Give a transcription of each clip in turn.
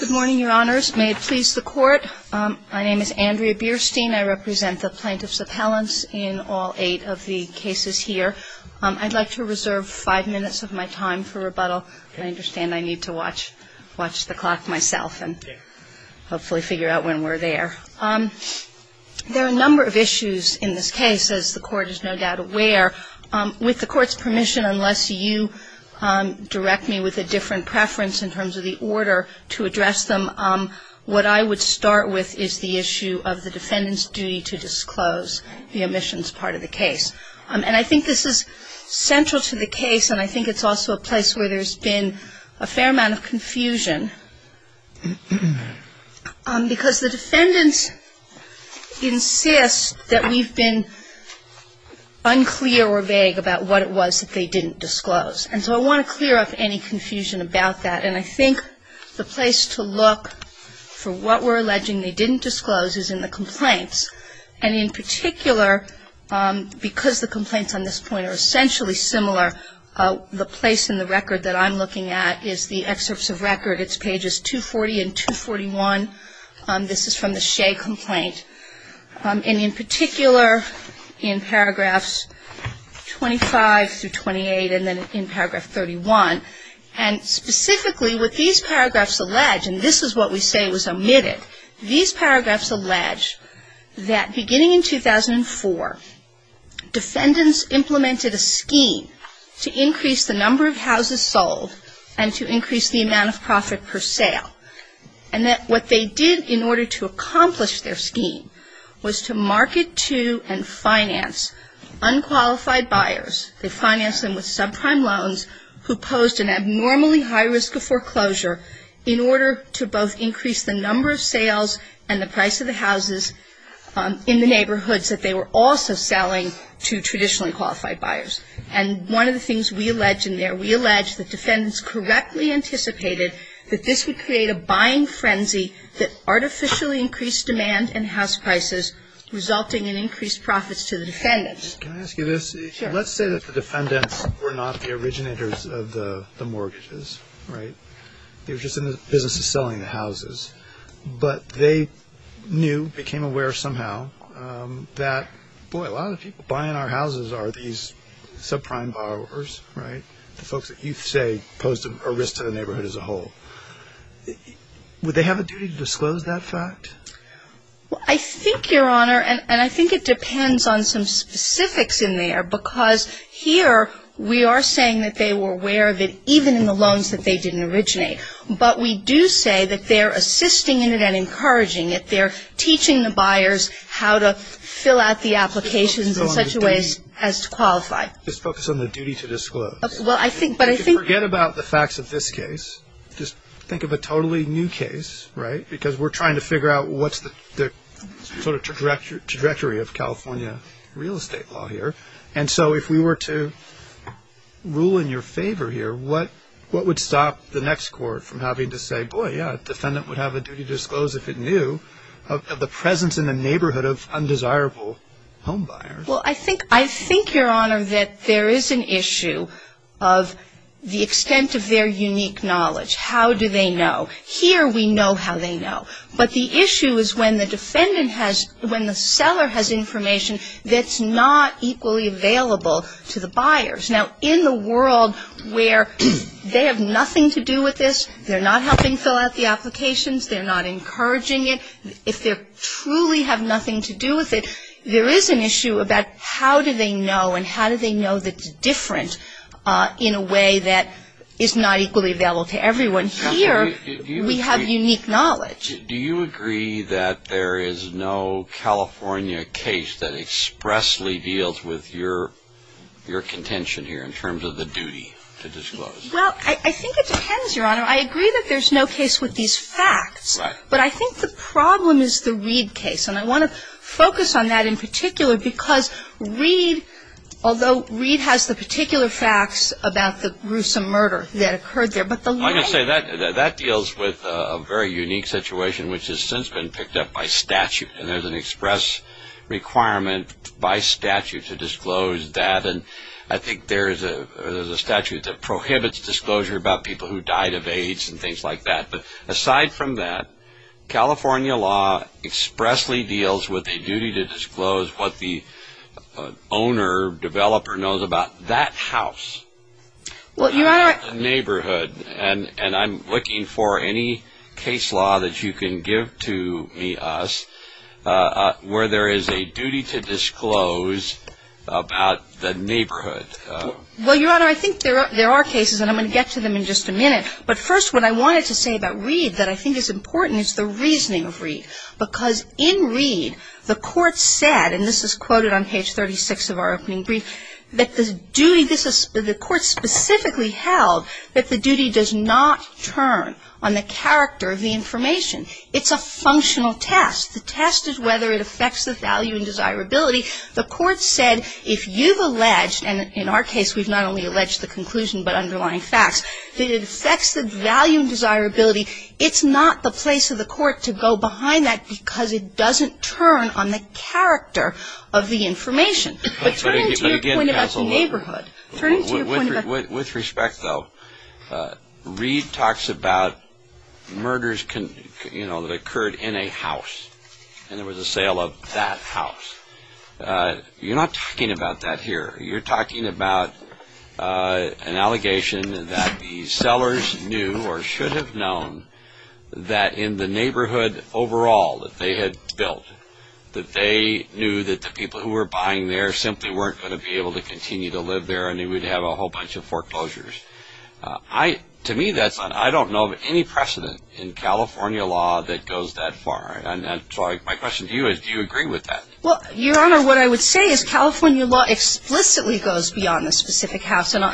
Good morning, Your Honors. May it please the Court. My name is Andrea Bierstein. I represent the plaintiffs' appellants in all eight of the cases here. I'd like to reserve five minutes of my time for rebuttal. I understand I need to watch the clock myself and hopefully figure out when we're there. There are a number of issues in this case, as the Court is no doubt aware. With the Court's what I would start with is the issue of the defendant's duty to disclose the omissions part of the case. And I think this is central to the case, and I think it's also a place where there's been a fair amount of confusion, because the defendants insist that we've been unclear or vague about what it was that they didn't disclose. And so I want to clear up any confusion about that. And I think the place to look for what we're alleging they didn't disclose is in the complaints. And in particular, because the complaints on this point are essentially similar, the place in the record that I'm looking at is the excerpts of record. It's pages 240 and 241. This is from the Shea complaint. And in particular, in paragraphs 25 through 28, and then in paragraph 31, and specifically with these paragraphs allege, and this is what we say was omitted, these paragraphs allege that beginning in 2004, defendants implemented a scheme to increase the number of houses sold and to increase the amount of profit per sale. And that what they did in order to accomplish their scheme was to market to and finance unqualified buyers. They financed them with subprime loans who posed an abnormally high risk of foreclosure in order to both increase the number of sales and the price of the houses in the neighborhoods that they were also selling to traditionally qualified buyers. And one of the things we allege in there, we allege that defendants correctly anticipated that this would create a buying frenzy that artificially increased demand and house prices, resulting in increased profits to the defendants. Can I ask you this? Sure. Let's say that the defendants were not the originators of the mortgages, right? They were just in the business of selling the houses. But they knew, became aware somehow, that boy a lot of the people buying our houses are these subprime borrowers, right? The folks that you say posed a risk to the neighborhood as a whole. Would they have a duty to disclose that fact? Well, I think, Your Honor, and I think it depends on some specifics in there, because here we are saying that they were aware of it even in the loans that they didn't originate. But we do say that they're assisting in it and encouraging it. They're teaching the buyers how to fill out the applications in such a way as to qualify. Just focus on the duty to disclose. Well, I think, but I think Forget about the facts of this case. Just think of a totally new case, right? Because we're trying to figure out what's the sort of trajectory of California real estate law here. And so if we were to rule in your favor here, what would stop the next court from having to say, boy, yeah, a defendant would have a duty to disclose if it knew of the presence in the neighborhood of undesirable homebuyers? Well, I think, Your Honor, that there is an issue of the extent of their unique knowledge. How do they know? Here we know how they know. But the issue is when the defendant has, when the seller has information that's not equally available to the buyers. Now, in the world where they have nothing to do with this, they're not helping fill out the applications, they're not encouraging it, if they truly have nothing to do with it, there is an issue about how do they know and how do they know that it's different in a way that is not equally available to everyone. Here, we have unique knowledge. Do you agree that there is no California case that expressly deals with your contention here in terms of the duty to disclose? Well, I think it depends, Your Honor. I agree that there's no case with these facts. But I think the problem is the Reed case. And I want to focus on that in particular because Reed, although Reed has the particular facts about the gruesome murder that occurred there, but the law... I'm going to say that deals with a very unique situation which has since been picked up by statute. And there's an express requirement by statute to disclose that. And I think there's a statute that prohibits disclosure about people who died of AIDS and things like that. But aside from that, California law expressly deals with a duty to disclose what the owner, developer knows about that house, that neighborhood. And I'm looking for any case law that you can give to me, us, where there is a duty to disclose about the neighborhood. Well, Your Honor, I think there are cases, and I'm going to get to them in just a minute. But first, what I wanted to say about Reed that I think is important is the reasoning of Reed. Because in Reed, the court said, and this is quoted on page 36 of our opening brief, that the duty, the court specifically held that the duty does not turn on the character of the information. It's a functional test. The test is whether it affects the value and desirability. The court said if you've alleged, and in our case we've not only alleged the value and desirability, it's not the place of the court to go behind that because it doesn't turn on the character of the information. But turning to your point about the neighborhood. With respect though, Reed talks about murders that occurred in a house. And there was a sale of that house. You're not talking about that here. You're talking about an allegation that the sellers knew, or should have known, that in the neighborhood overall that they had built, that they knew that the people who were buying there simply weren't going to be able to continue to live there and they would have a whole bunch of foreclosures. To me, that's not, I don't know of any precedent in California law that goes that far. And so my question to you is, do you agree with that? Well, Your Honor, what I would say is California law explicitly goes beyond a specific house. And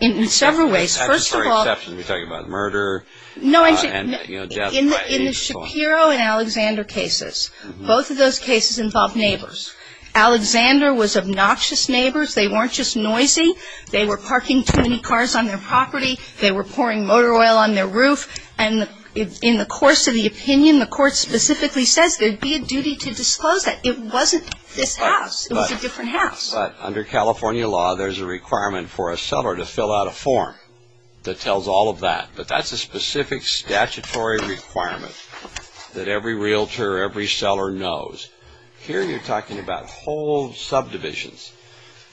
in several ways. First of all... That's just for exception. You're talking about murder and, you know, death by lethal. In the Shapiro and Alexander cases, both of those cases involved neighbors. Alexander was obnoxious neighbors. They weren't just noisy. They were parking too many cars on their property. They were pouring motor oil on their roof. And in the course of the opinion, the court specifically says there'd be a duty to disclose that. It wasn't this house. It was a different house. Under California law, there's a requirement for a seller to fill out a form that tells all of that. But that's a specific statutory requirement that every realtor or every seller knows. Here you're talking about whole subdivisions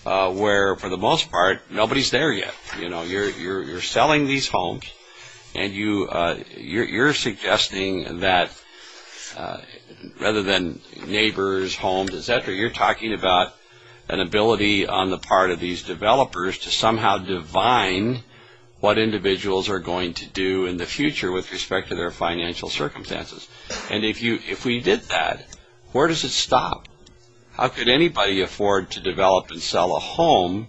where, for the most part, nobody's there yet. You know, you're selling these homes and you're suggesting that rather than neighbors, homes, et cetera, you're talking about an ability on the part of these developers to somehow divine what individuals are going to do in the future with respect to their financial circumstances. And if we did that, where does it stop? How could anybody afford to develop and sell a home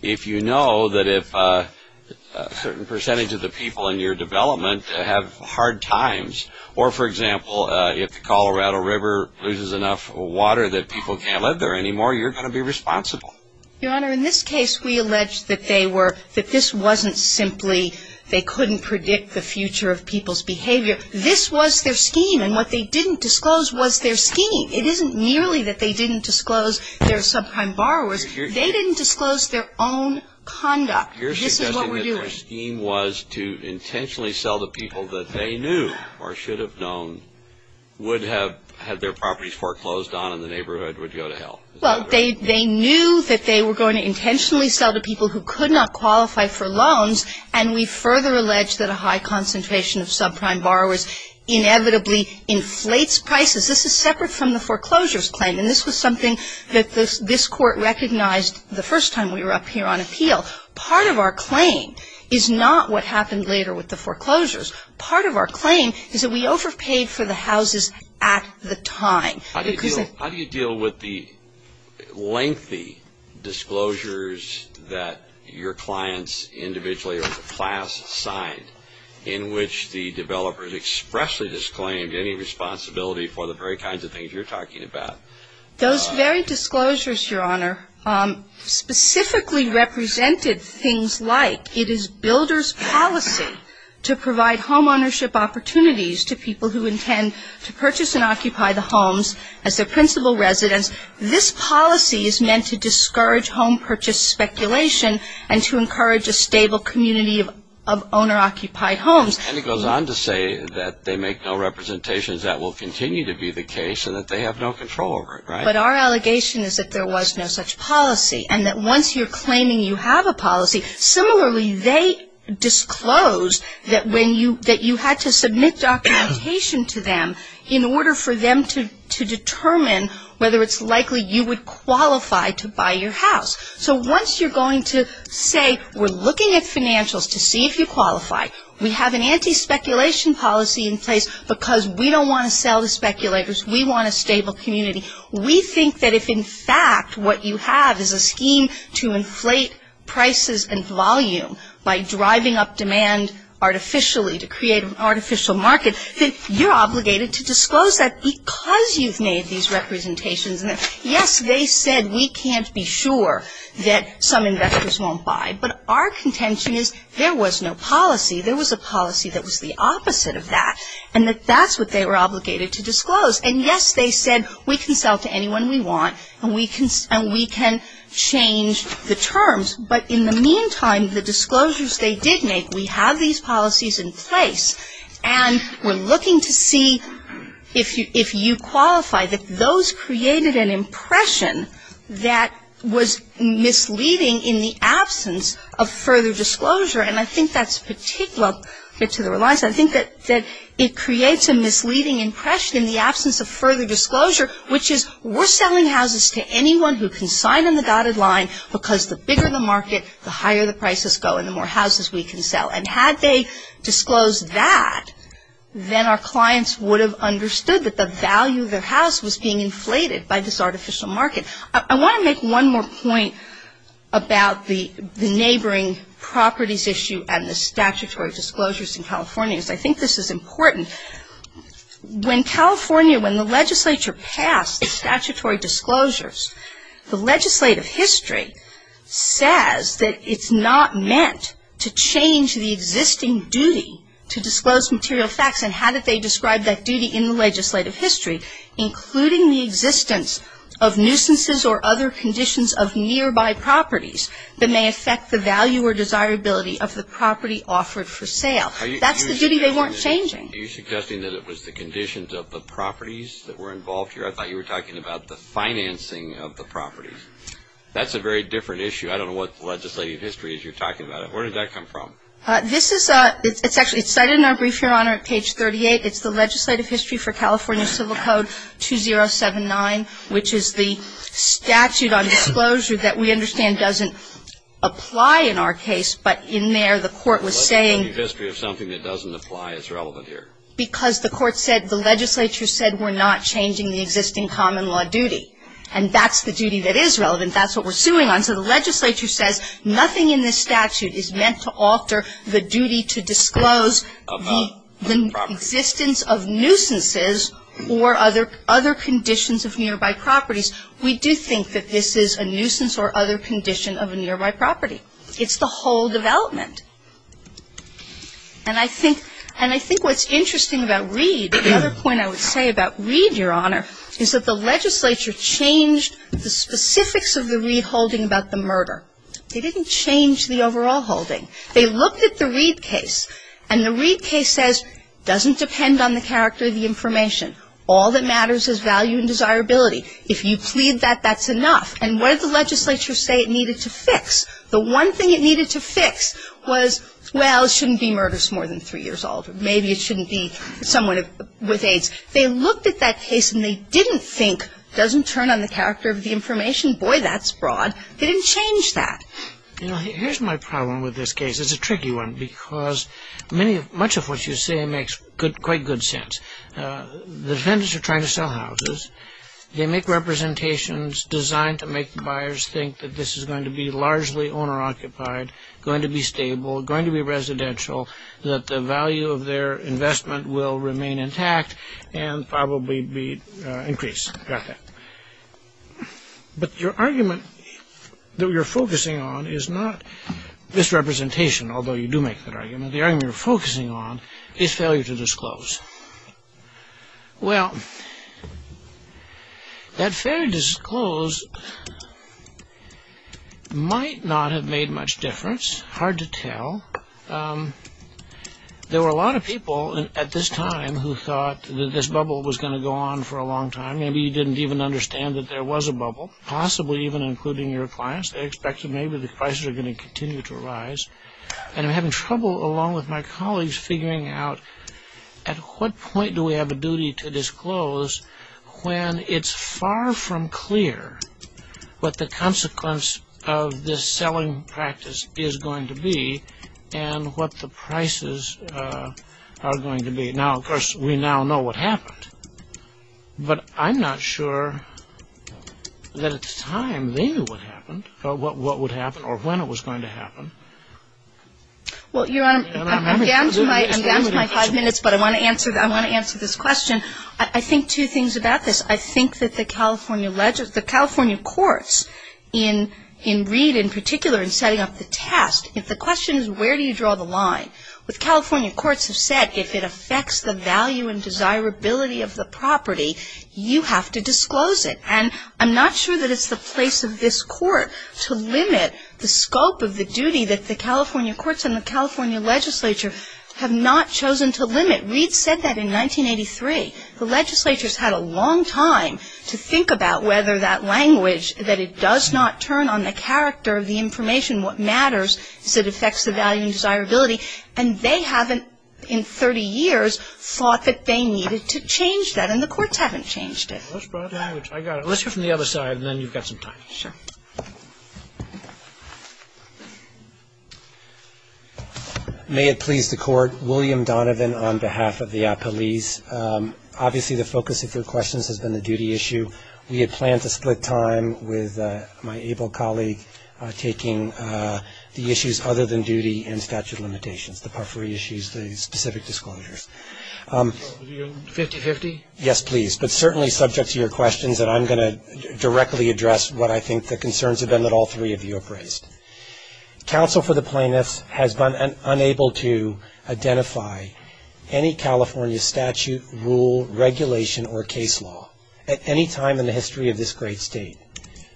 if you know that if a certain percentage of the people in your development have hard times or, for example, if the Colorado River loses enough water that people can't live there anymore, you're going to be responsible? Your Honor, in this case, we allege that they were, that this wasn't simply they couldn't predict the future of people's behavior. This was their scheme. And what they didn't disclose was their scheme. It isn't merely that they didn't disclose their subprime borrowers. They didn't disclose their own conduct. This is what we're doing. Their scheme was to intentionally sell to people that they knew or should have known would have had their properties foreclosed on and the neighborhood would go to hell. Well, they knew that they were going to intentionally sell to people who could not qualify for loans and we further allege that a high concentration of subprime borrowers inevitably inflates prices. This is separate from the foreclosures claim and this was something that this Court recognized the first time we were up here on appeal. Part of our claim is not what happened later with the foreclosures. Part of our claim is that we overpaid for the houses at the time. How do you deal with the lengthy disclosures that your clients individually or the class signed in which the developers expressly disclaimed any responsibility for the very kinds of things you're talking about? Those very disclosures, Your Honor, specifically represented things like it is builder's policy to provide homeownership opportunities to people who intend to purchase and occupy the homes as their principal residence. This policy is meant to discourage home purchase speculation and to encourage a stable community of owner-occupied homes. And it goes on to say that they make no representations that will continue to be the case and that they have no control over it, right? But our allegation is that there was no such policy and that once you're claiming you have a policy, similarly, they disclose that you had to submit documentation to them in order for them to determine whether it's likely you would qualify to buy your house. So once you're going to say we're looking at financials to see if you qualify, we have an anti-speculation policy in place because we don't want to sell to speculators. We want a stable community. We think that if, in fact, what you have is a scheme to inflate prices and volume by driving up demand artificially to create an artificial market, then you're obligated to disclose that because you've made these representations and, yes, they said we can't be sure that some investors won't buy, but our contention is there was no policy. There was a policy that was the opposite of that and that that's what they were obligated to disclose. And, yes, they said we can sell to anyone we want and we can change the terms, but in the meantime, the disclosures they did make, we have these policies in place and we're looking to see if you qualify, that those created an impression that was misleading in the absence of further disclosure. And I think that's particular to the Reliance. I think that it creates a misleading impression in the absence of further disclosure, which is we're selling houses to anyone who can sign on the dotted line because the bigger the market, the higher the prices go and the more houses we can sell. And had they disclosed that, then our clients would have understood that the value of their house was being inflated by this artificial market. I want to make one more point about the neighboring properties issue and the statutory disclosures in California because I think this is important. When California, when the legislature passed the statutory disclosures, the legislative history says that it's not meant to change the existing duty to disclose material facts and how did they describe that nuisances or other conditions of nearby properties that may affect the value or desirability of the property offered for sale. That's the duty they weren't changing. Are you suggesting that it was the conditions of the properties that were involved here? I thought you were talking about the financing of the properties. That's a very different issue. I don't know what legislative history is you're talking about. Where did that come from? This is, it's actually cited in our brief, Your Honor, at page 38. It's the legislative history for California Civil Code 2079, which is the statute on disclosure that we understand doesn't apply in our case, but in there the court was saying The legislative history of something that doesn't apply is relevant here. Because the court said, the legislature said we're not changing the existing common law duty. And that's the duty that is relevant. That's what we're suing on. So the legislature says nothing in this statute is meant to alter the duty to disclose the existence of nuisance or other conditions of nearby properties. We do think that this is a nuisance or other condition of a nearby property. It's the whole development. And I think, and I think what's interesting about Reed, the other point I would say about Reed, Your Honor, is that the legislature changed the specifics of the Reed holding about the murder. They didn't change the overall holding. They looked at the Reed case. And the Reed case says, doesn't depend on the character of the information. All that matters is value and desirability. If you plead that, that's enough. And what did the legislature say it needed to fix? The one thing it needed to fix was, well, it shouldn't be murders more than three years old. Maybe it shouldn't be someone with AIDS. They looked at that case and they didn't think, doesn't turn on the character of the information. Boy, that's broad. They didn't change that. Here's my problem with this case. It's a tricky one because many, much of what you say makes good, quite good sense. The defendants are trying to sell houses. They make representations designed to make buyers think that this is going to be largely owner occupied, going to be stable, going to be residential, that the value of their investment will remain intact and probably be increased. Got that. But your argument that you're focusing on is not this representation, although you do make that argument. The argument you're focusing on is failure to disclose. Well, that failure to disclose might not have made much difference. Hard to tell. There were a lot of people at this time who thought that this bubble was going to go on for a long time. Maybe you didn't even understand that there was a bubble, possibly even including your clients. They expected maybe the prices are going to continue to rise. And I'm having trouble, along with my colleagues, figuring out at what point do we have a duty to disclose when it's far from clear what the consequence of this selling practice is going to be and what the prices are going to be. Now, of course, we now know what happened. But I'm not sure that at the time they knew what happened or what would happen or when it was going to happen. Well, Your Honor, I'm down to my five minutes, but I want to answer this question. I think two things about this. I think that the California courts, in Reed in particular, in setting up the test, if the question is where do you draw the line, the California courts have said if it affects the value and desirability of the property, you have to disclose it. And I'm not sure that it's the place of this Court to limit the scope of the duty that the California courts and the California legislature have not chosen to limit. Reed said that in 1983. The legislature's had a long time to think about whether that language, that it matters, is it affects the value and desirability, and they haven't in 30 years thought that they needed to change that, and the courts haven't changed it. I got it. Let's hear from the other side, and then you've got some time. Sure. May it please the Court. William Donovan on behalf of the appellees. Obviously, the focus of your questions has been the duty issue. We had planned to split time with my able colleague taking the issues other than duty and statute limitations, the puffery issues, the specific disclosures. 50-50? Yes, please. But certainly subject to your questions, and I'm going to directly address what I think the concerns have been that all three of you have raised. Counsel for the plaintiffs has been unable to identify any California statute, rule, regulation, or case law at any time in the history of this great State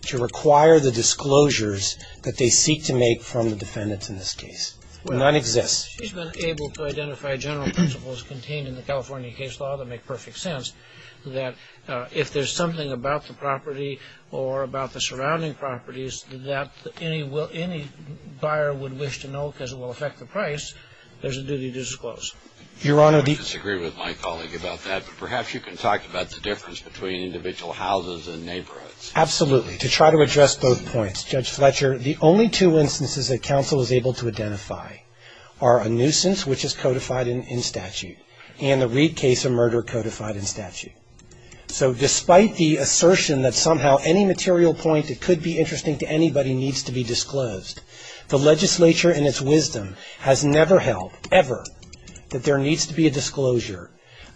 to require the disclosures that they seek to make from the defendants in this case. None exist. She's been able to identify general principles contained in the California case law that make perfect sense that if there's something about the property or about the surrounding properties that any buyer would wish to know because it will affect the price, there's a duty to disclose. Your Honor, the I disagree with my colleague about that, but perhaps you can talk about the difference between individual houses and neighborhoods. Absolutely. To try to address both points, Judge Fletcher, the only two instances that counsel was able to identify are a nuisance, which is codified in statute, and the Reed case of murder codified in statute. So despite the assertion that somehow any material point that could be interesting to anybody needs to be disclosed, the legislature in its wisdom has never held ever that there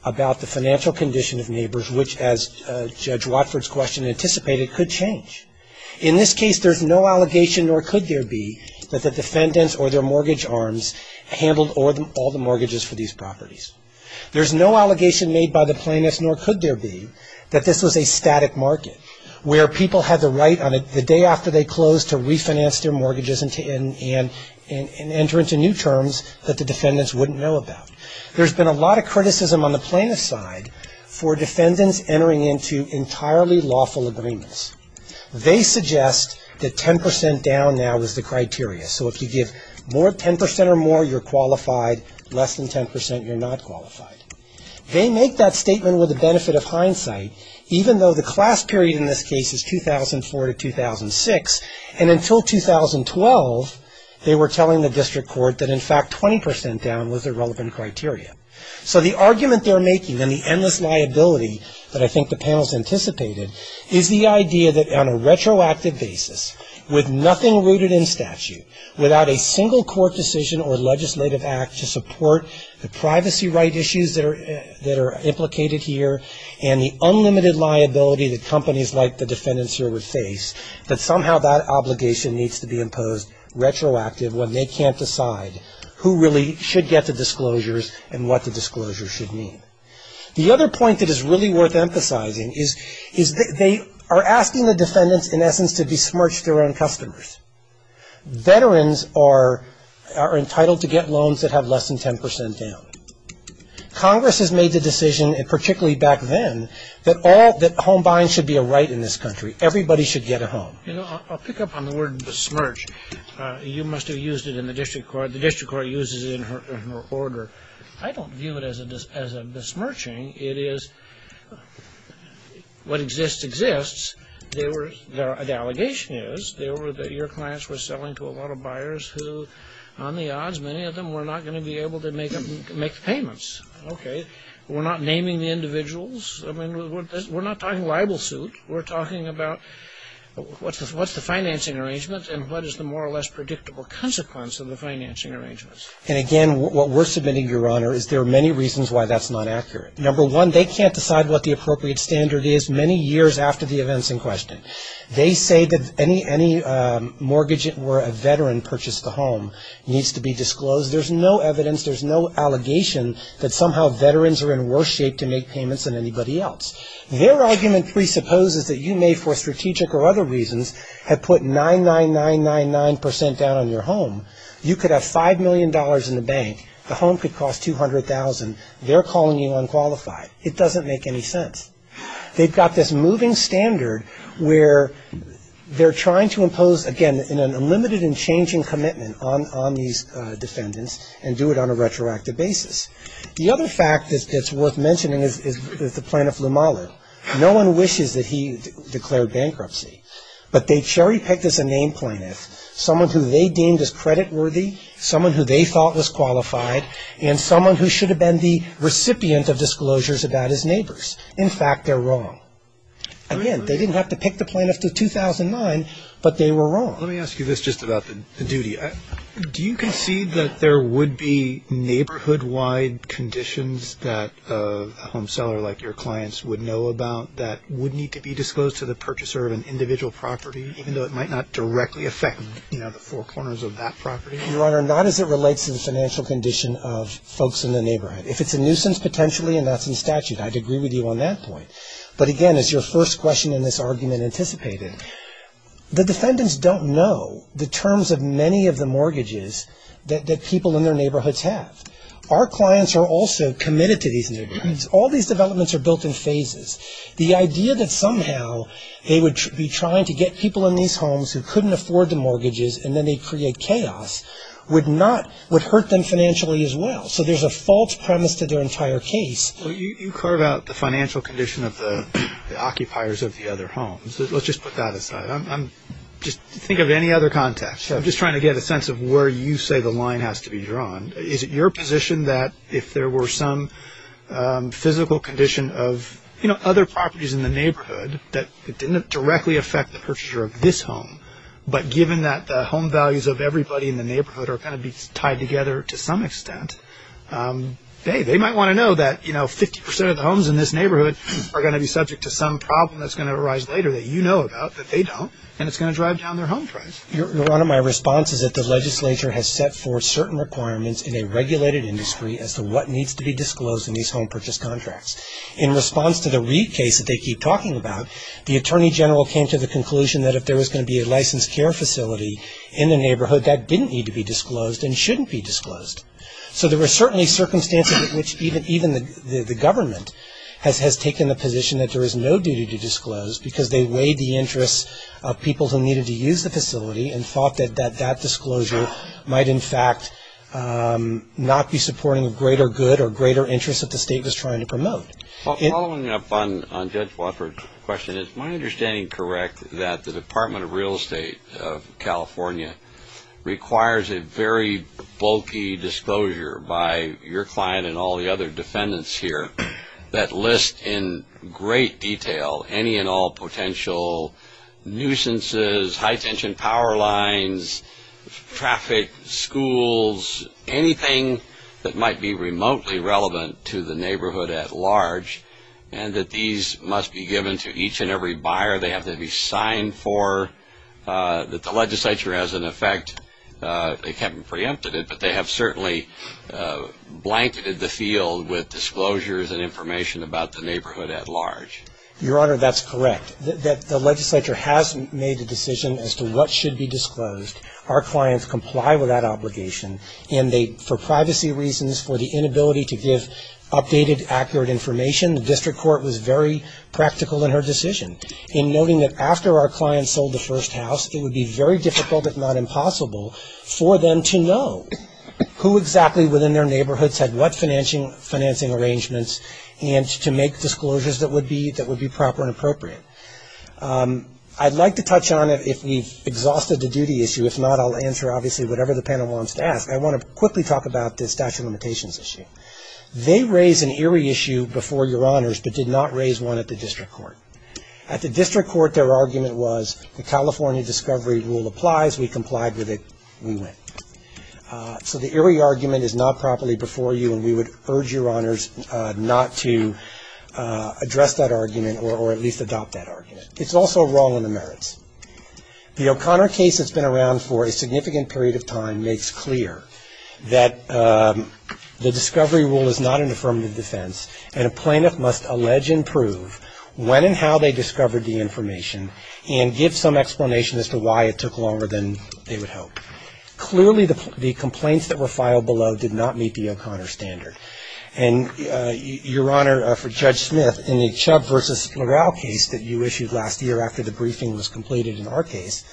about the financial condition of neighbors, which, as Judge Watford's question anticipated, could change. In this case, there's no allegation, nor could there be, that the defendants or their mortgage arms handled all the mortgages for these properties. There's no allegation made by the plaintiffs, nor could there be, that this was a static market where people had the right on the day after they closed to refinance their mortgages and enter into new terms that the defendants wouldn't know about. There's been a lot of criticism on the plaintiff's side for defendants entering into entirely lawful agreements. They suggest that 10% down now is the criteria. So if you give more 10% or more, you're qualified. Less than 10%, you're not qualified. They make that statement with the benefit of hindsight, even though the class period in this case is 2004 to 2006, and until 2012, they were telling the district court that, in fact, 20% down was a relevant criteria. So the argument they're making and the endless liability that I think the panel's anticipated is the idea that on a retroactive basis, with nothing rooted in statute, without a single court decision or legislative act to support the privacy right issues that are implicated here and the unlimited liability that companies like the defendants here would face, that needs to be imposed retroactive when they can't decide who really should get the disclosures and what the disclosures should mean. The other point that is really worth emphasizing is they are asking the defendants, in essence, to besmirch their own customers. Veterans are entitled to get loans that have less than 10% down. Congress has made the decision, particularly back then, that home buying should be a right in this country. Everybody should get a home. You know, I'll pick up on the word besmirch. You must have used it in the district court. The district court uses it in her order. I don't view it as a besmirching. It is what exists exists. The allegation is that your clients were selling to a lot of buyers who, on the odds, many of them were not going to be able to make payments. Okay. We're not naming the individuals. I mean, we're not talking libel suit. We're talking about what's the financing arrangement and what is the more or less predictable consequence of the financing arrangements. And, again, what we're submitting, Your Honor, is there are many reasons why that's not accurate. Number one, they can't decide what the appropriate standard is many years after the events in question. They say that any mortgage where a veteran purchased a home needs to be disclosed. There's no evidence, there's no allegation that somehow veterans are in worse shape to make payments than anybody else. Their argument presupposes that you may, for strategic or other reasons, have put 99999% down on your home. You could have $5 million in the bank. The home could cost $200,000. They're calling you unqualified. It doesn't make any sense. They've got this moving standard where they're trying to impose, again, an unlimited and changing commitment on these defendants and do it on a retroactive basis. The other fact that's worth mentioning is the plaintiff, Lumalu. No one wishes that he declared bankruptcy, but they cherry-picked as a name plaintiff someone who they deemed as creditworthy, someone who they thought was qualified, and someone who should have been the recipient of disclosures about his neighbors. In fact, they're wrong. Again, they didn't have to pick the plaintiff to 2009, but they were wrong. Let me ask you this just about the duty. Do you concede that there would be neighborhood-wide conditions that a home seller like your clients would know about that would need to be disclosed to the purchaser of an individual property, even though it might not directly affect the four corners of that property? Your Honor, not as it relates to the financial condition of folks in the neighborhood. If it's a nuisance, potentially, and that's in statute, I'd agree with you on that point. But, again, as your first question in this argument anticipated, the defendants don't know the terms of many of the mortgages that people in their neighborhoods have. Our clients are also committed to these neighborhoods. All these developments are built in phases. The idea that somehow they would be trying to get people in these homes who couldn't afford the mortgages and then they'd create chaos would hurt them financially as well. So there's a false premise to their entire case. Well, you carve out the financial condition of the occupiers of the other homes. Let's just put that aside. Just think of any other context. I'm just trying to get a sense of where you say the line has to be drawn. Is it your position that if there were some physical condition of other properties in the neighborhood that it didn't directly affect the purchaser of this home, but given that the home values of everybody in the neighborhood are going to be tied together to some extent, hey, they might want to know that 50 percent of the homes in this neighborhood are going to be subject to some problem that's going to arise later that you know about that they don't, and it's going to drive down their home price. One of my responses is that the legislature has set forth certain requirements in a regulated industry as to what needs to be disclosed in these home purchase contracts. In response to the Reid case that they keep talking about, the attorney general came to the conclusion that if there was going to be a licensed care facility in the neighborhood, that didn't need to be disclosed and shouldn't be disclosed. So there were certainly circumstances in which even the government has taken the position that there is no duty to disclose because they weighed the interests of people who needed to use the facility and thought that that disclosure might in fact not be supporting a greater good or greater interest that the state was trying to promote. Well, following up on Judge Wofford's question, is my understanding correct that the Department of Real Estate of California requires a very bulky disclosure by your client and all the other defendants here that lists in great detail any and all potential nuisances, high-tension power lines, traffic, schools, anything that might be remotely relevant to the neighborhood at large, and that these must be given to each and every buyer. They have to be signed for. That the legislature, as an effect, they haven't preempted it, but they have certainly blanketed the field with disclosures and information about the neighborhood at large. Your Honor, that's correct. The legislature has made the decision as to what should be disclosed. Our clients comply with that obligation. For privacy reasons, for the inability to give updated, accurate information, the district court was very practical in her decision in noting that after our clients sold the first house, it would be very difficult, if not impossible, for them to know who exactly within their neighborhoods had what financing arrangements and to make disclosures that would be proper and appropriate. I'd like to touch on it if we've exhausted the duty issue. If not, I'll answer, obviously, whatever the panel wants to ask. I want to quickly talk about the statute of limitations issue. They raised an Erie issue before Your Honors, but did not raise one at the district court. At the district court, their argument was the California discovery rule applies. We complied with it. We went. So the Erie argument is not properly before you, and we would urge Your Honors not to address that argument or at least adopt that argument. It's also wrong on the merits. The O'Connor case that's been around for a significant period of time makes clear that the discovery rule is not an affirmative defense, and a plaintiff must allege and prove when and how they discovered the information and give some explanation as to why it took longer than they would hope. Clearly, the complaints that were filed below did not meet the O'Connor standard. And Your Honor, for Judge Smith, in the Chubb v. Morrell case that you issued last year after the briefing was completed in our case,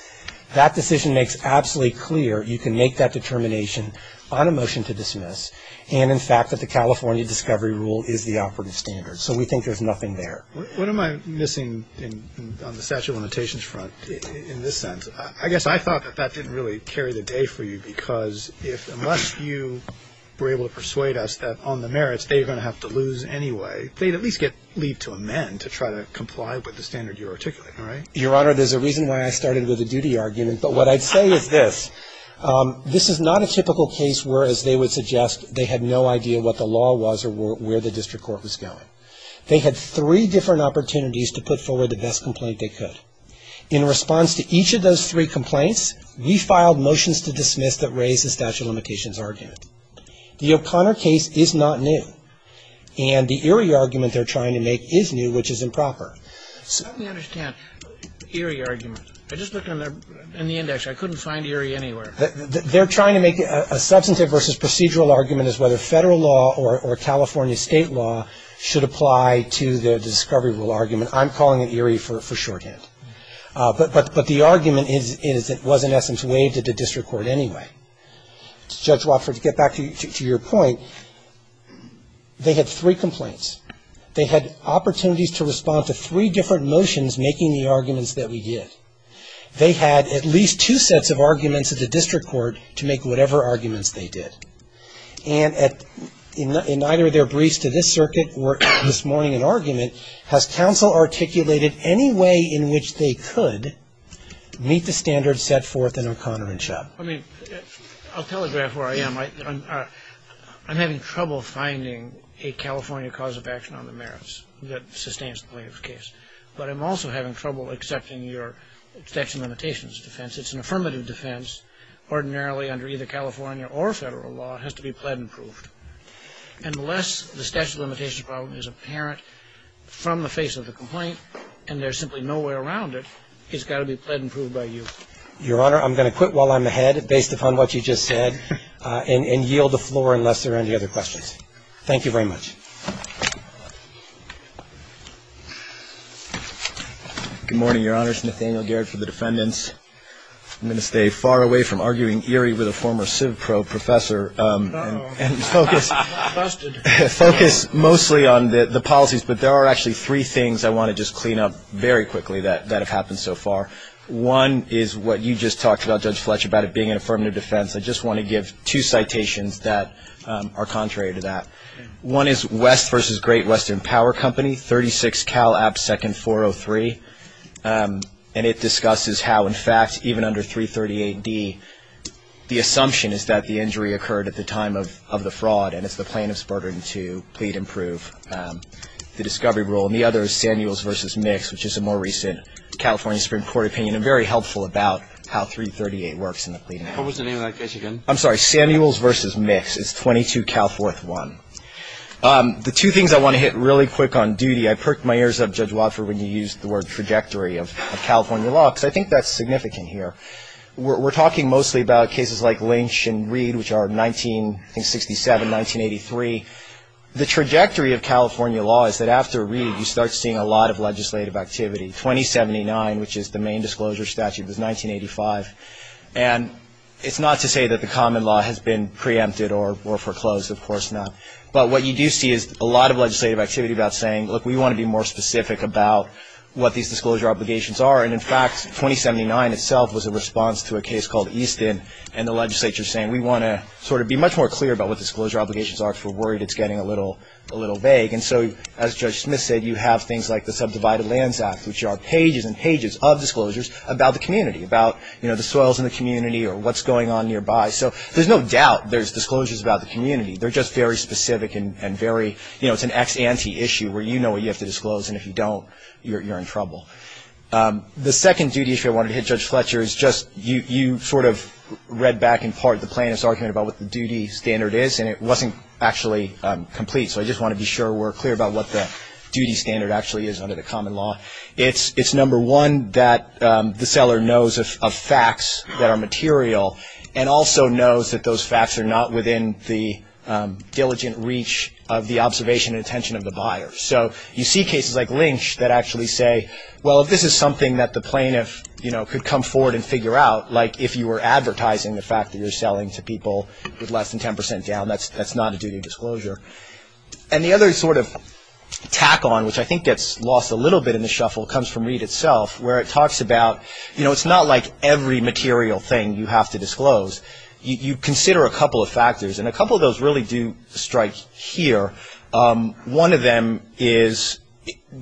that decision makes absolutely clear you can make that determination on a motion to dismiss, and in fact that the California discovery rule is the operative standard. So we think there's nothing there. What am I missing on the statute of limitations front in this sense? I guess I thought that that didn't really carry the day for you, because unless you were able to persuade us that on the merits they're going to have to lose anyway, they'd at least get leave to amend to try to comply with the standard you're articulating, right? Your Honor, there's a reason why I started with a duty argument. But what I'd say is this. This is not a typical case where, as they would suggest, they had no idea what the law was or where the district court was going. They had three different opportunities to put forward the best complaint they could. In response to each of those three complaints, we filed motions to dismiss that raise the statute of limitations argument. The O'Connor case is not new. And the Erie argument they're trying to make is new, which is improper. Let me understand the Erie argument. I just looked in the index. I couldn't find Erie anywhere. They're trying to make a substantive versus procedural argument as whether federal law or California state law should apply to the discovery rule argument. I'm calling it Erie for shorthand. But the argument is it was in essence waived at the district court anyway. Judge Wofford, to get back to your point, they had three complaints. They had opportunities to respond to three different motions making the arguments that we did. They had at least two sets of arguments at the district court to make whatever arguments they did. And in either of their briefs to this circuit or this morning in argument, has counsel articulated any way in which they could meet the standards set forth in O'Connor and Chubb? I mean, I'll telegraph where I am. I'm having trouble finding a California cause of action on the merits that sustains the plaintiff's case. But I'm also having trouble accepting your statute of limitations defense. It's an affirmative defense ordinarily under either California or federal law. It has to be pled and proved. Unless the statute of limitations problem is apparent from the face of the complaint and there's simply no way around it, it's got to be pled and proved by you. Your Honor, I'm going to quit while I'm ahead based upon what you just said and yield the floor unless there are any other questions. Thank you very much. Good morning, Your Honor. It's Nathaniel Garrett for the defendants. I'm going to stay far away from arguing eerie with a former civ pro professor and focus mostly on the policies. But there are actually three things I want to just clean up very quickly that have happened so far. One is what you just talked about, Judge Fletcher, about it being an affirmative defense. I just want to give two citations that are contrary to that. One is West v. Great Western Power Company, 36 Cal. App. 2nd. 403. And it discusses how, in fact, even under 338D, the assumption is that the injury occurred at the time of the fraud and it's the plaintiff's burden to pled and prove the discovery rule. And the other is Samuels v. Mix, which is a more recent California Supreme Court opinion and very helpful about how 338 works in the pled and prove. I'm sorry. Samuels v. Mix is 22 Cal. 4th. 1. The two things I want to hit really quick on duty, I perked my ears up, Judge Watford, when you used the word trajectory of California law because I think that's significant here. We're talking mostly about cases like Lynch and Reed, which are 1967, 1983. The trajectory of California law is that after Reed, you start seeing a lot of legislative activity. 2079, which is the main disclosure statute, was 1985. And it's not to say that the common law has been preempted or foreclosed. Of course not. But what you do see is a lot of legislative activity about saying, look, we want to be more specific about what these disclosure obligations are. And, in fact, 2079 itself was a response to a case called Easton and the legislature saying we want to sort of be much more clear about what disclosure obligations are because we're worried it's getting a little vague. And so, as Judge Smith said, you have things like the Subdivided Lands Act, which are pages and pages of disclosures about the community, about, you know, the soils in the community or what's going on nearby. So there's no doubt there's disclosures about the community. They're just very specific and very, you know, it's an ex ante issue where you know what you have to disclose and if you don't, you're in trouble. The second duty issue I wanted to hit, Judge Fletcher, is just you sort of read back in part the plaintiff's argument about what the duty standard is, and it wasn't actually complete. So I just want to be sure we're clear about what the duty standard actually is under the common law. It's number one that the seller knows of facts that are material and also knows that those facts are not within the diligent reach of the observation and attention of the buyer. So you see cases like Lynch that actually say, well, if this is something that the plaintiff, you know, could come forward and figure out, like if you were advertising the fact that you're selling to people with less than 10 percent down, that's not a duty of disclosure. And the other sort of tack on, which I think gets lost a little bit in the shuffle, comes from Reid itself where it talks about, you know, it's not like every material thing you have to disclose. You consider a couple of factors, and a couple of those really do strike here. One of them is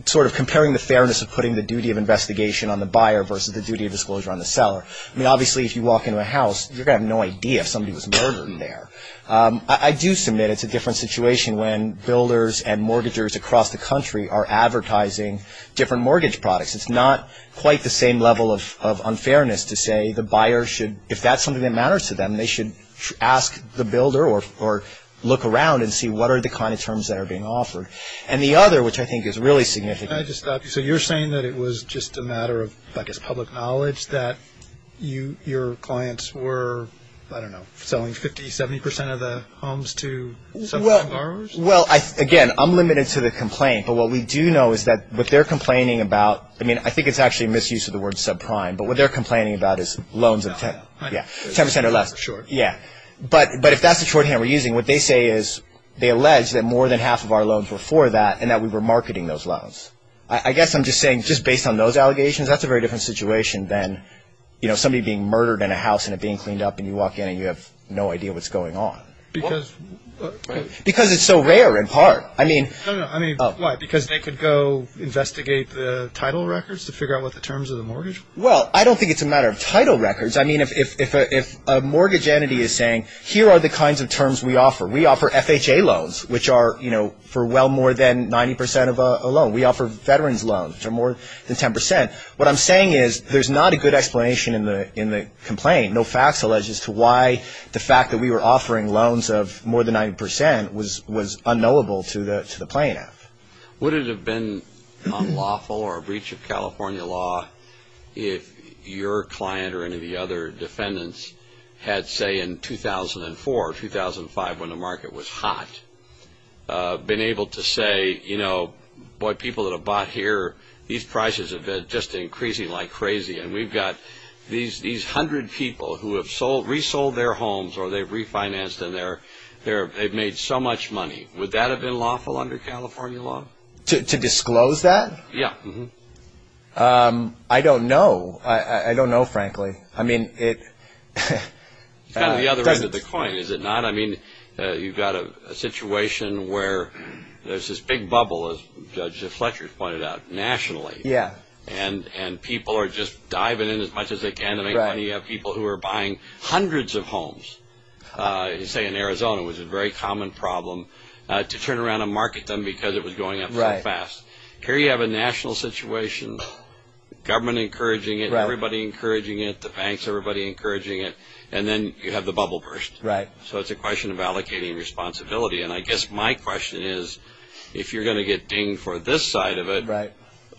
sort of comparing the fairness of putting the duty of investigation on the buyer versus the duty of disclosure on the seller. I mean, obviously, if you walk into a house, you're going to have no idea if somebody was murdered in there. I do submit it's a different situation when builders and mortgagers across the country are advertising different mortgage products. It's not quite the same level of unfairness to say the buyer should, if that's something that matters to them, they should ask the builder or look around and see what are the kind of terms that are being offered. And the other, which I think is really significant. Can I just stop you? So you're saying that it was just a matter of, I guess, public knowledge that your clients were, I don't know, selling 50, 70 percent of the homes to subprime borrowers? Well, again, I'm limited to the complaint. But what we do know is that what they're complaining about, I mean, I think it's actually a misuse of the word subprime, but what they're complaining about is loans of 10 percent or less. But if that's the shorthand we're using, what they say is they allege that more than half of our loans were for that and that we were marketing those loans. I guess I'm just saying just based on those allegations, that's a very different situation than, you know, somebody being murdered in a house and it being cleaned up and you walk in and you have no idea what's going on. Because it's so rare in part. No, no, I mean, why? Because they could go investigate the title records to figure out what the terms of the mortgage were? Well, I don't think it's a matter of title records. I mean, if a mortgage entity is saying, here are the kinds of terms we offer. We offer FHA loans, which are, you know, for well more than 90 percent of a loan. We offer veterans loans, which are more than 10 percent. What I'm saying is there's not a good explanation in the complaint. No facts allege as to why the fact that we were offering loans of more than 90 percent was unknowable to the plaintiff. Would it have been unlawful or a breach of California law if your client or any of the other defendants had, say, in 2004 or 2005 when the market was hot, been able to say, you know, boy, people that have bought here, these prices have been just increasing like crazy. And we've got these hundred people who have resold their homes or they've refinanced and they've made so much money. Would that have been lawful under California law? To disclose that? Yeah. I don't know. I don't know, frankly. I mean, it – It's kind of the other end of the coin, is it not? I mean, you've got a situation where there's this big bubble, as Judge Fletcher pointed out, nationally. Yeah. And people are just diving in as much as they can to make money. You have people who are buying hundreds of homes, say, in Arizona. It was a very common problem to turn around and market them because it was going up so fast. Here you have a national situation, government encouraging it, everybody encouraging it, the banks, everybody encouraging it. And then you have the bubble burst. Right. So it's a question of allocating responsibility. And I guess my question is, if you're going to get dinged for this side of it,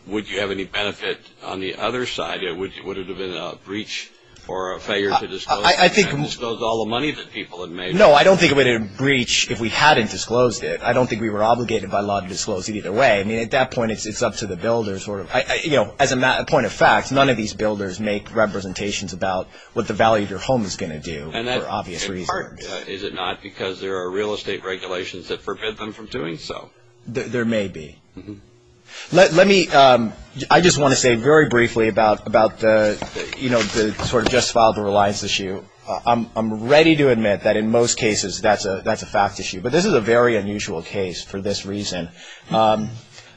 would you have any benefit on the other side? Would it have been a breach or a failure to disclose all the money that people had made? No, I don't think it would have been a breach if we hadn't disclosed it. I don't think we were obligated by law to disclose it either way. I mean, at that point, it's up to the builders. As a point of fact, none of these builders make representations about what the value of your home is going to do for obvious reasons. Is it not because there are real estate regulations that forbid them from doing so? There may be. I just want to say very briefly about the sort of just filed a reliance issue. I'm ready to admit that in most cases that's a fact issue, but this is a very unusual case for this reason.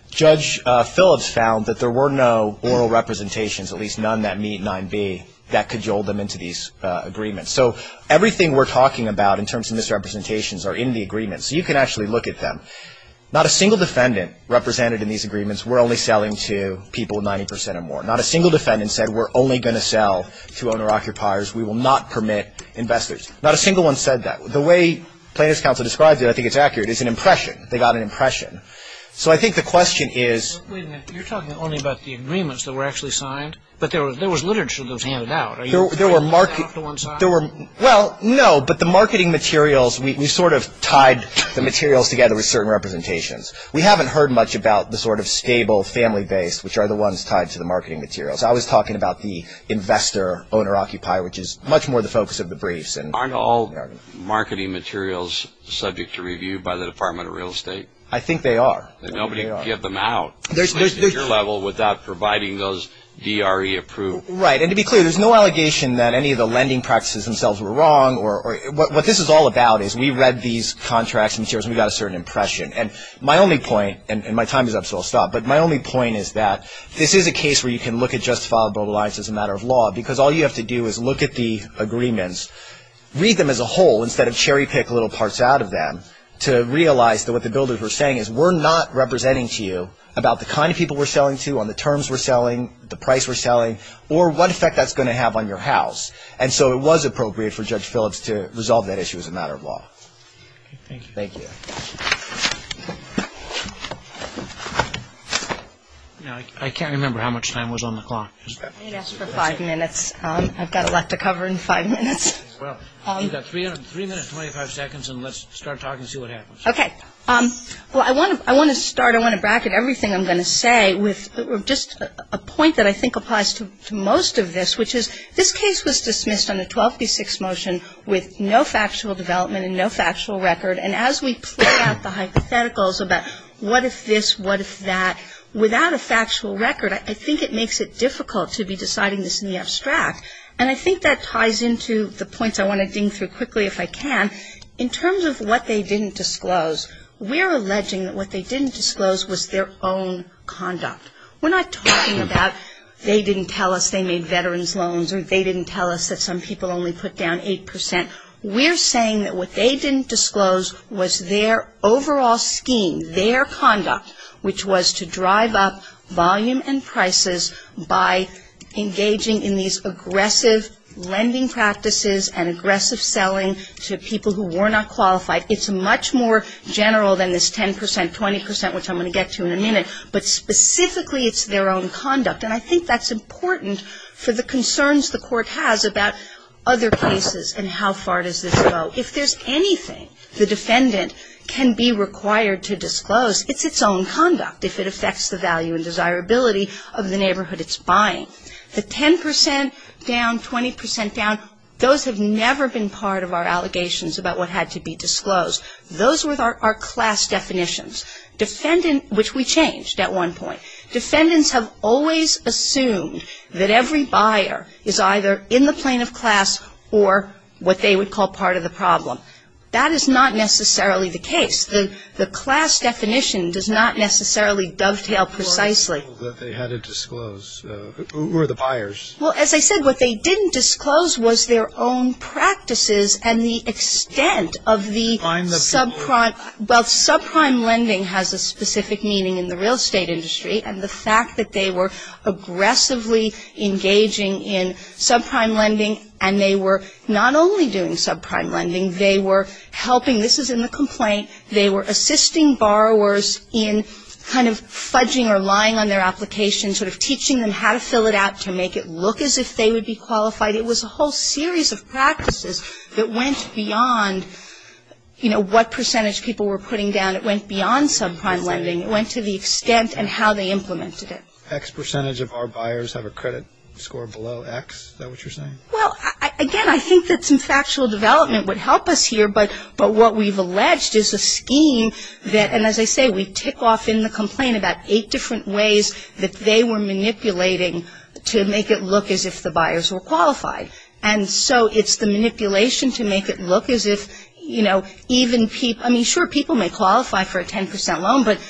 Judge Phillips found that there were no oral representations, at least none that meet 9B, that cajoled them into these agreements. So everything we're talking about in terms of misrepresentations are in the agreement. So you can actually look at them. Not a single defendant represented in these agreements were only selling to people 90% or more. Not a single defendant said we're only going to sell to owner-occupiers. We will not permit investors. Not a single one said that. The way Plaintiff's Counsel describes it, I think it's accurate, is an impression. They got an impression. So I think the question is – Wait a minute. You're talking only about the agreements that were actually signed, but there was literature that was handed out. There were – Did they all come to one side? Well, no, but the marketing materials, we sort of tied the materials together with certain representations. We haven't heard much about the sort of stable, family-based, which are the ones tied to the marketing materials. I was talking about the investor-owner-occupier, which is much more the focus of the briefs. Aren't all marketing materials subject to review by the Department of Real Estate? I think they are. Nobody can get them out at your level without providing those DRE approval. Right. And to be clear, there's no allegation that any of the lending practices themselves were wrong. What this is all about is we read these contracts and materials, and we got a certain impression. And my only point – and my time is up, so I'll stop – but my only point is that this is a case where you can look at justifiable compliance as a matter of law because all you have to do is look at the agreements, read them as a whole instead of cherry-pick little parts out of them to realize that what the builders were saying is we're not representing to you about the kind of people we're selling to, on the terms we're selling, the price we're selling, or what effect that's going to have on your house. And so it was appropriate for Judge Phillips to resolve that issue as a matter of law. Thank you. Thank you. I can't remember how much time was on the clock. I didn't ask for five minutes. I've got a lot to cover in five minutes. Well, you've got three minutes, 25 seconds, and let's start talking and see what happens. Okay. Well, I want to start – I want to bracket everything I'm going to say with just a point that I think applies to most of this, which is this case was dismissed on a 12b6 motion with no factual development and no factual record. And as we play out the hypotheticals about what if this, what if that, without a factual record, I think it makes it difficult to be deciding this in the abstract. And I think that ties into the points I want to ding through quickly if I can. In terms of what they didn't disclose, we're alleging that what they didn't disclose was their own conduct. We're not talking about they didn't tell us they made veterans loans or they didn't tell us that some people only put down 8%. We're saying that what they didn't disclose was their overall scheme, their conduct, which was to drive up volume and prices by engaging in these aggressive lending practices and aggressive selling to people who were not qualified. It's much more general than this 10%, 20%, which I'm going to get to in a minute, but specifically it's their own conduct. And I think that's important for the concerns the Court has about other cases and how far does this go. If there's anything the defendant can be required to disclose, it's its own conduct, if it affects the value and desirability of the neighborhood it's buying. The 10% down, 20% down, those have never been part of our allegations about what had to be disclosed. Those were our class definitions, which we changed at one point. Defendants have always assumed that every buyer is either in the plane of class or what they would call part of the problem. That is not necessarily the case. The class definition does not necessarily dovetail precisely. Who are the people that they had to disclose? Who are the buyers? Well, as I said, what they didn't disclose was their own practices and the extent of the subprime. Well, subprime lending has a specific meaning in the real estate industry, and the fact that they were aggressively engaging in subprime lending, and they were not only doing subprime lending, they were helping. This is in the complaint. They were assisting borrowers in kind of fudging or lying on their application, sort of teaching them how to fill it out to make it look as if they would be qualified. It was a whole series of practices that went beyond, you know, what percentage people were putting down. It went beyond subprime lending. It went to the extent and how they implemented it. X percentage of our buyers have a credit score below X? Is that what you're saying? Well, again, I think that some factual development would help us here, but what we've alleged is a scheme that, and as I say, we tick off in the complaint about eight different ways that they were manipulating to make it look as if the buyers were qualified. And so it's the manipulation to make it look as if, you know, even people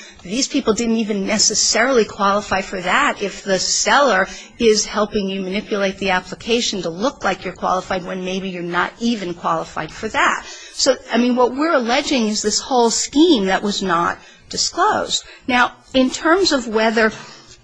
– these people didn't even necessarily qualify for that if the seller is helping you manipulate the application to look like you're qualified when maybe you're not even qualified for that. So, I mean, what we're alleging is this whole scheme that was not disclosed. Now, in terms of whether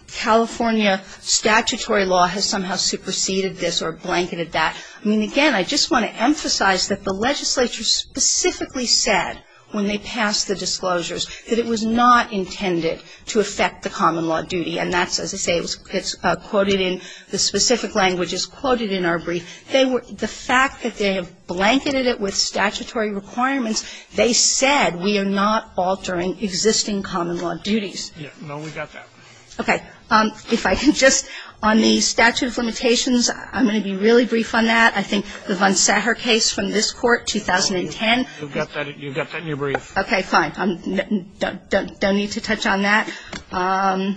California statutory law has somehow superseded this or blanketed that, I mean, again, I just want to emphasize that the legislature specifically said when they passed the disclosures that it was not intended to affect the common law duty. And that's, as I say, it's quoted in – the specific language is quoted in our brief. They were – the fact that they have blanketed it with statutory requirements, they said we are not altering existing common law duties. Yeah. No, we got that. Okay. If I can just – on the statute of limitations, I'm going to be really brief on that. I think the Von Sacher case from this Court, 2010 – You've got that in your brief. Okay, fine. Don't need to touch on that. On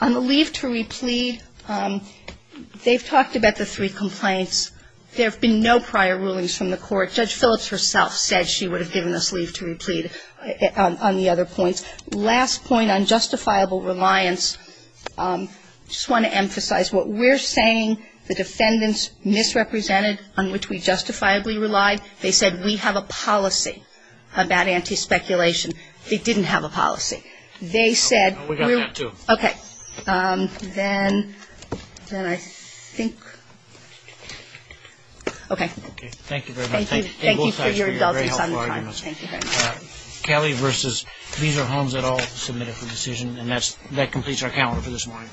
the leave to replead, they've talked about the three complaints. There have been no prior rulings from the Court. Judge Phillips herself said she would have given us leave to replead on the other points. Last point on justifiable reliance, I just want to emphasize what we're saying, the defendants misrepresented on which we justifiably relied. They said we have a policy about anti-speculation. They didn't have a policy. They said we're – We got that, too. Okay. Then I think – okay. Okay. Thank you very much. Thank you for your very helpful arguments. Thank you very much. Kelly v. These are homes that all submitted for decision. And that completes our calendar for this morning.